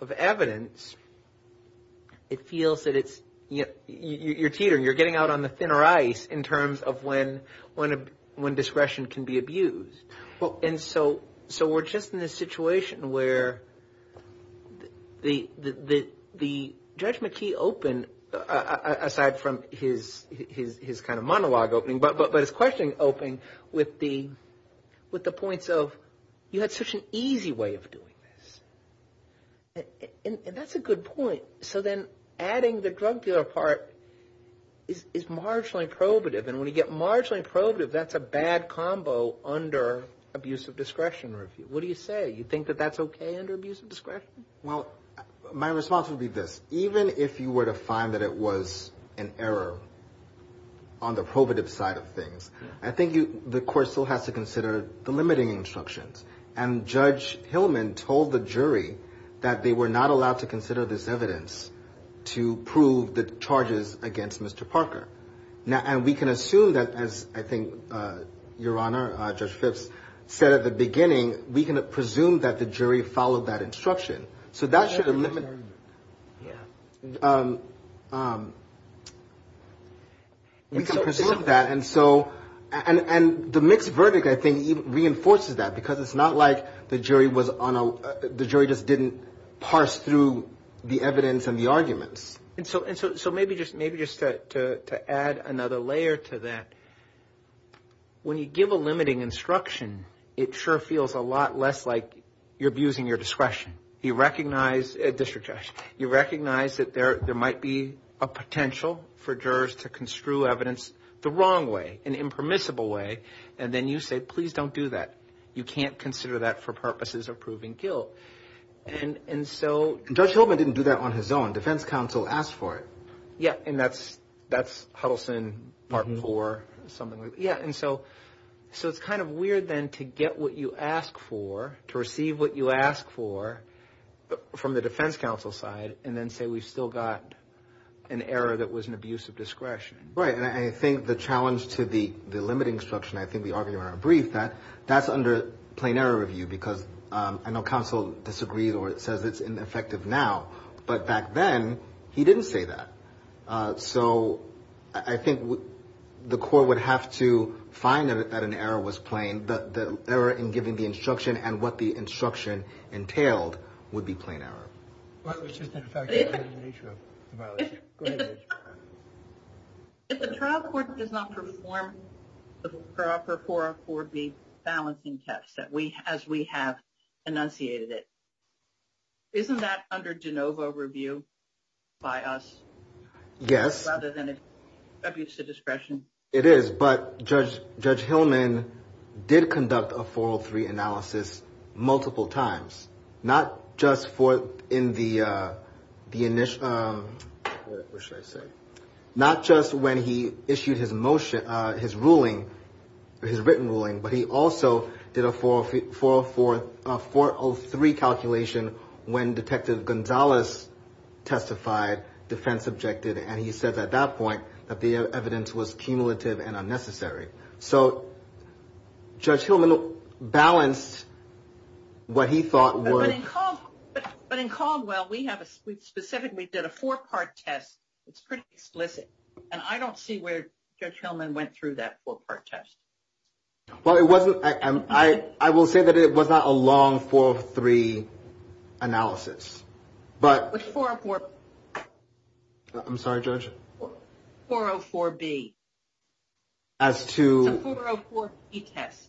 of evidence, it feels that you're teetering. You're getting out on the thinner ice in terms of when discretion can be abused. And so we're just in this situation where the Judge McKee opened, aside from his kind of monologue opening, but his questioning opening with the points of, you had such an easy way of doing this. And that's a good point. So then adding the drug dealer part is marginally probative. And when you get marginally probative, that's a bad combo under abuse of discretion review. What do you say? You think that that's okay under abuse of discretion? Well, my response would be this. Even if you were to find that it was an error on the probative side of things, I think the court still has to consider the limiting instructions. And Judge Hillman told the jury that they were not allowed to consider this evidence to prove the charges against Mr. Parker. And we can assume that, as I think Your Honor, Judge Phipps said at the beginning, we can presume that the jury followed that instruction. So that should eliminate... Yeah. We can presume that. And so, and the mixed verdict, I think, reinforces that because it's not like the jury was on, the jury just didn't parse through the evidence and the arguments. And so maybe just to add another layer to that, when you give a limiting instruction, it sure feels a lot less like you're abusing your discretion. You recognize, District Judge, you recognize that there might be a potential for jurors to construe evidence the wrong way, an impermissible way. And then you say, please don't do that. You can't consider that for purposes of proving guilt. And so... Judge Hillman didn't do that on his own. Defense counsel asked for it. Yeah. And that's Huddleston, Martin IV, something like that. And so it's kind of weird then to get what you ask for, to receive what you ask for from the defense counsel side, and then say, we've still got an error that was an abuse of discretion. Right. And I think the challenge to the limiting instruction, I think we argued in our brief that that's under plain error review because I know counsel disagrees or says it's ineffective now, but back then he didn't say that. So I think the court would have to find that an error was plain, the error in giving the instruction and what the instruction entailed would be plain error. If the trial court does not perform the proper 4R4B balancing test as we have enunciated it, isn't that under de novo review by us? Yes. Rather than an abuse of discretion. It is, but Judge Hillman did conduct a 403 analysis multiple times, not just when he issued his ruling, his written ruling, but he also did a 403 calculation when Detective Gonzalez testified, defense objected. And he said at that point that the evidence was cumulative and unnecessary. So Judge Hillman balanced what he thought would... But in Caldwell, we specifically did a four-part test. It's pretty explicit. And I don't see where Judge Hillman went through that four-part test. Well, it wasn't... I will say that it was not a long 403 analysis, but... I'm sorry, Judge. 404B. As to... It's a 404B test.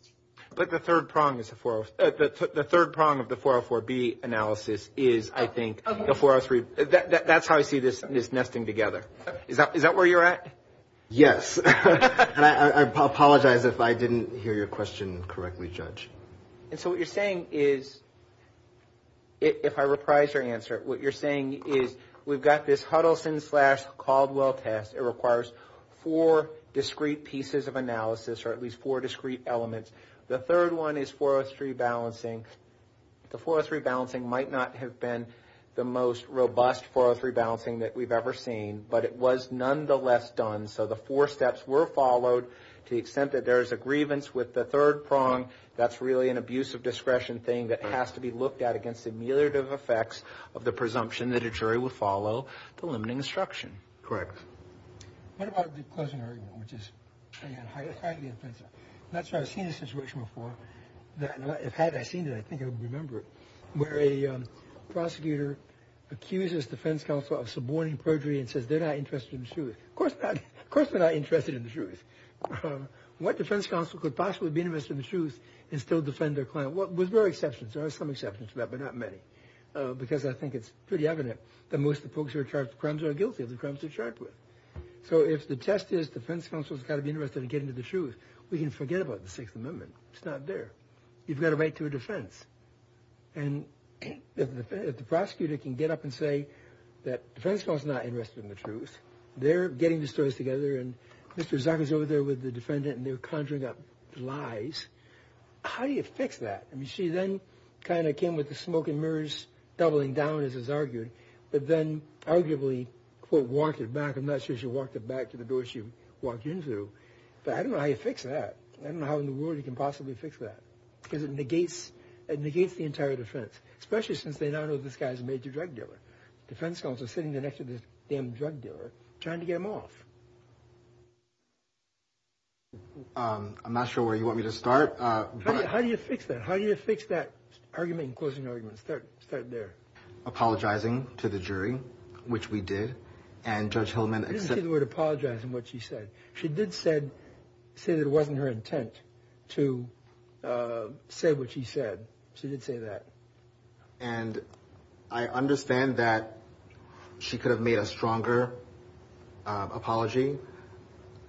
But the third prong is a 404... The third prong of the 404B analysis is, I think, the 403... That's how I see this nesting together. Is that where you're at? Yes. And I apologize if I didn't hear your question correctly, Judge. And so what you're saying is, if I reprise your answer, what you're saying is we've got this Huddleston-slash-Caldwell test. It requires four discrete pieces of analysis, or at least four discrete elements. The third one is 403 balancing. The 403 balancing might not have been the most robust 403 balancing that we've ever seen, but it was nonetheless done. So the four steps were followed to the extent that there is a grievance with the third prong. That's really an abuse of discretion thing that has to be looked at against the ameliorative effects of the presumption that a jury will follow the limiting instruction. Correct. What about the closing argument, which is highly offensive? That's right. I've seen a situation before that... If I had seen it, I think I would remember it, where a prosecutor accuses defense counsel of suborning perjury and says they're not interested in the truth. Of course they're not interested in the truth. What defense counsel could possibly be interested in the truth and still defend their client? Well, there are exceptions. There are some exceptions to that, but not many, because I think it's pretty evident that most of the folks who are charged with crimes are guilty of the crimes they're charged with. So if the test is defense counsel's got to be interested in getting to the truth, we can forget about the Sixth Amendment. It's not there. You've got a right to a defense. And if the prosecutor can get up and say that defense counsel's not interested in the truth, they're getting the stories together, and Mr. Zucker's over there with the defendant, and they're conjuring up lies, how do you fix that? I mean, she then kind of came with the smoke and mirrors doubling down, as is argued, but then arguably, quote, walked it back. I'm not sure she walked it back to the door she walked into, but I don't know how you fix that. I don't know how in the world you can possibly fix that, because it negates the entire defense, especially since they now know this guy's a major drug dealer. Defense counsel's sitting there next to this damn drug dealer, trying to get him off. I'm not sure where you want me to start. How do you fix that? How do you fix that argument in closing arguments? Start there. Apologizing to the jury, which we did, and Judge Hillman... She didn't say the word apologize in what she said. She did say that it wasn't her intent to say what she said. She did say that. And I understand that she could have made a stronger apology.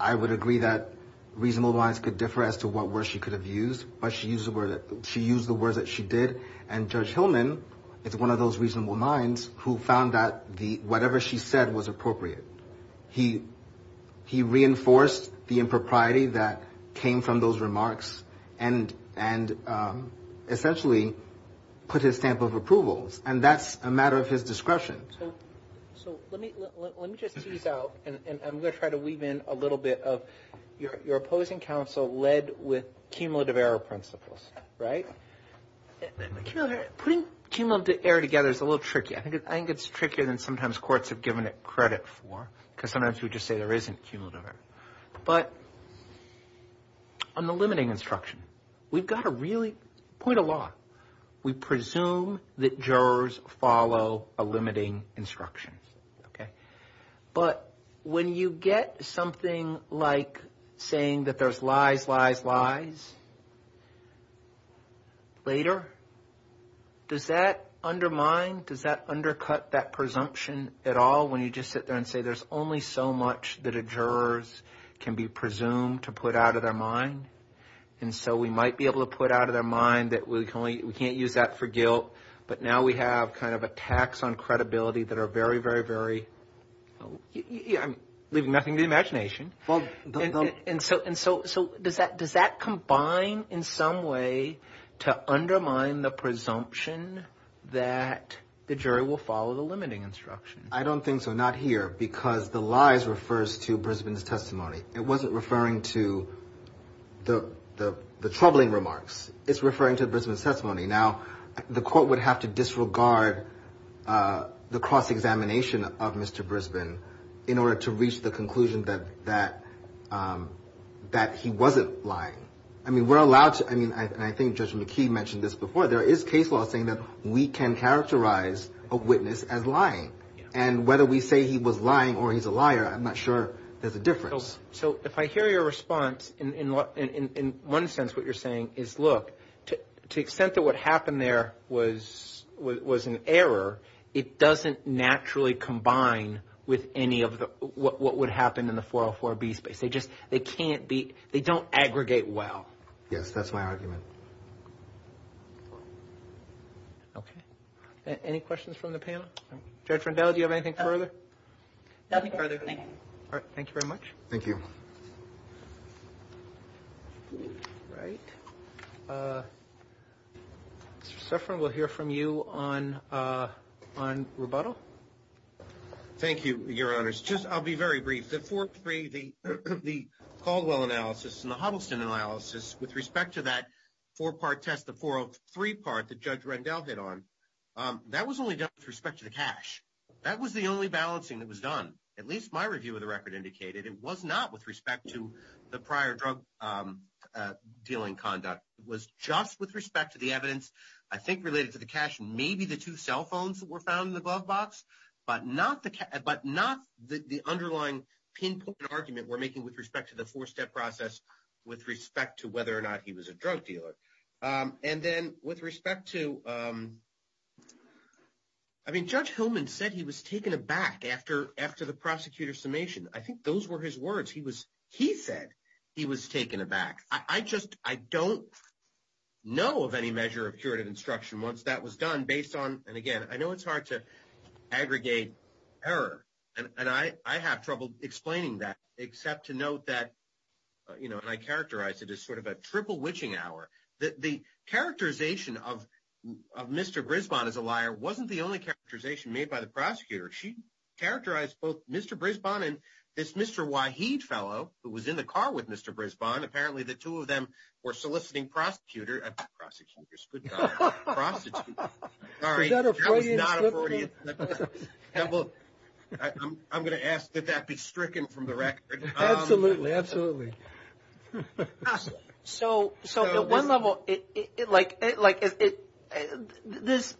I would agree that reasonable minds could differ as to what words she could have used, but she used the words that she did. And Judge Hillman is one of those reasonable minds who found that whatever she said was appropriate. He reinforced the impropriety that came from those remarks and essentially put his stamp of approvals. And that's a matter of his discretion. So let me just tease out, and I'm going to try to weave in a little bit of your opposing counsel led with cumulative error principles, right? Putting cumulative error together is a little tricky. I think it's trickier than sometimes courts have given it credit for, because sometimes we just say there isn't cumulative error. But on the limiting instruction, we've got to really point a lot. We presume that jurors follow a limiting instruction, okay? But when you get something like saying that there's lies, lies, lies later, does that undermine? Does that undercut that presumption at all when you just sit there and say there's only so much that a jurors can be presumed to put out of their mind? And so we might be able to put out of their mind that we can't use that for guilt, but now we have kind of attacks on credibility that are very, very, very, I'm leaving nothing to imagination. And so does that combine in some way to undermine the presumption that the jury will follow the limiting instruction? I don't think so, not here, because the lies refers to Brisbane's testimony. It wasn't referring to the troubling remarks. It's referring to Brisbane's testimony. Now, the court would have to disregard the cross-examination of Mr. Brisbane in order to reach the conclusion that he wasn't lying. I mean, we're allowed to, I mean, and I think Judge McKee mentioned this before, there is case law saying that we can characterize a witness as lying. And whether we say he was lying or he's a liar, I'm not sure there's a difference. So if I hear your response, in one sense, what you're saying is, look, to the extent that what happened there was an error, it doesn't naturally combine with any of what would happen in the 404B space. They just, they can't be, they don't aggregate well. Yes, that's my argument. Okay, any questions from the panel? Judge Rendell, do you have anything further? Nothing further, thank you. All right, thank you very much. Thank you. All right, Mr. Suffron, we'll hear from you on rebuttal. Thank you, Your Honors. Just, I'll be very brief. The 403, the Caldwell analysis and the Huddleston analysis with respect to that four-part test, the 403 part that Judge Rendell hit on, that was only done with respect to the cash. That was the only balancing that was done. At least my review of the record indicated it was not with respect to the prior drug dealing conduct. It was just with respect to the evidence, I think related to the cash, maybe the two cell phones that were found in the glove box, but not the underlying pinpoint argument we're making with respect to the four-step process with respect to whether or not he was a drug dealer. And then with respect to, I mean, Judge Hillman said he was taken aback after the prosecutor's summation. I think those were his words. He said he was taken aback. I just, I don't know of any measure of curative instruction once that was done based on, and again, I know it's hard to aggregate error, and I have trouble explaining that except to note that, and I characterize it as sort of a triple witching hour, that the characterization of Mr. Griswold as a liar wasn't the only characterization made by the prosecutor. She characterized both Mr. Brisbon and this Mr. Waheed fellow who was in the car with Mr. Brisbane. Apparently the two of them were soliciting prosecutor, prosecutors, good God. Prosecutor, sorry. Was that a Freudian slip of the tongue? I'm going to ask that that be stricken from the record. Absolutely. Absolutely. So at one level, like this,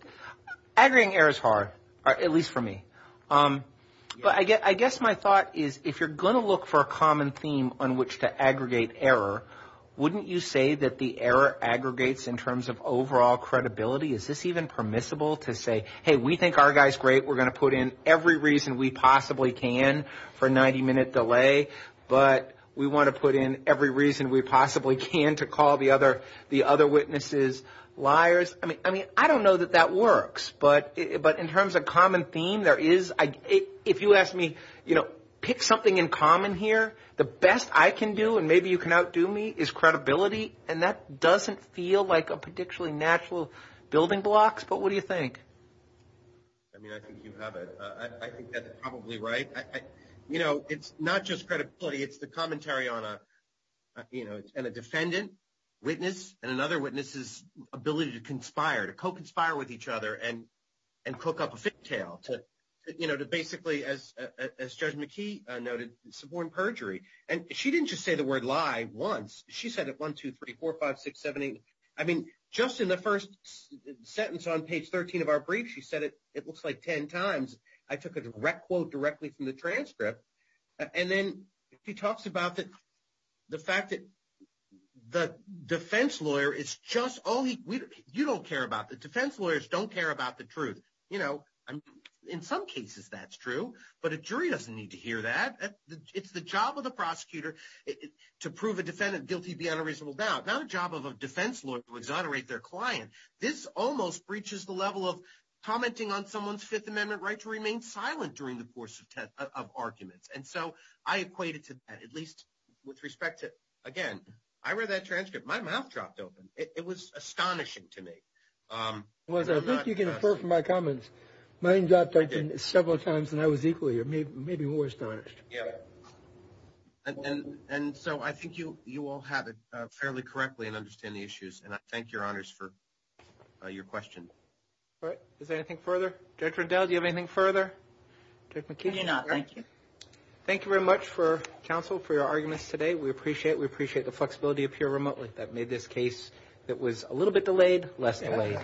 aggregating error is hard, at least for me. But I guess my thought is if you're going to look for a common theme on which to aggregate error, wouldn't you say that the error aggregates in terms of overall credibility? Is this even permissible to say, hey, we think our guy's great. We're going to put in every reason we possibly can for a 90-minute delay, but we want to put in every reason we possibly can to call the other witnesses liars. I don't know that that works. But in terms of common theme, if you ask me, pick something in common here. The best I can do, and maybe you can outdo me, is credibility. And that doesn't feel like a particularly natural building blocks. But what do you think? I mean, I think you have it. I think that's probably right. It's not just credibility. It's the commentary on a defendant, witness, and another witness's ability to conspire, to co-conspire with each other and cook up a fictail to basically, as Judge McKee noted, suborn perjury. And she didn't just say the word lie once. She said it one, two, three, four, five, six, seven, eight. I mean, just in the first sentence on page 13 of our brief, she said it looks like 10 times. I took a direct quote directly from the transcript. And then she talks about the fact that the defense lawyer is just, oh, you don't care about that. Defense lawyers don't care about the truth. You know, in some cases, that's true. But a jury doesn't need to hear that. It's the job of the prosecutor to prove a defendant guilty beyond a reasonable doubt, not a job of a defense lawyer to exonerate their client. This almost breaches the level of commenting on someone's Fifth Amendment right to remain silent during the course of arguments. And so I equated to that, at least with respect to, again, I read that transcript. My mouth dropped open. It was astonishing to me. It was. I think you can infer from my comments. Mine dropped, I think, several times, and I was equally or maybe more astonished. Yeah. And so I think you all have it fairly correctly and understand the issues. And I thank your honors for your question. All right. Is there anything further? Judge Rendell, do you have anything further? Judge McKee? No, thank you. Thank you very much for counsel for your arguments today. We appreciate it. We appreciate the flexibility up here remotely that made this case that was a little bit delayed, less delayed.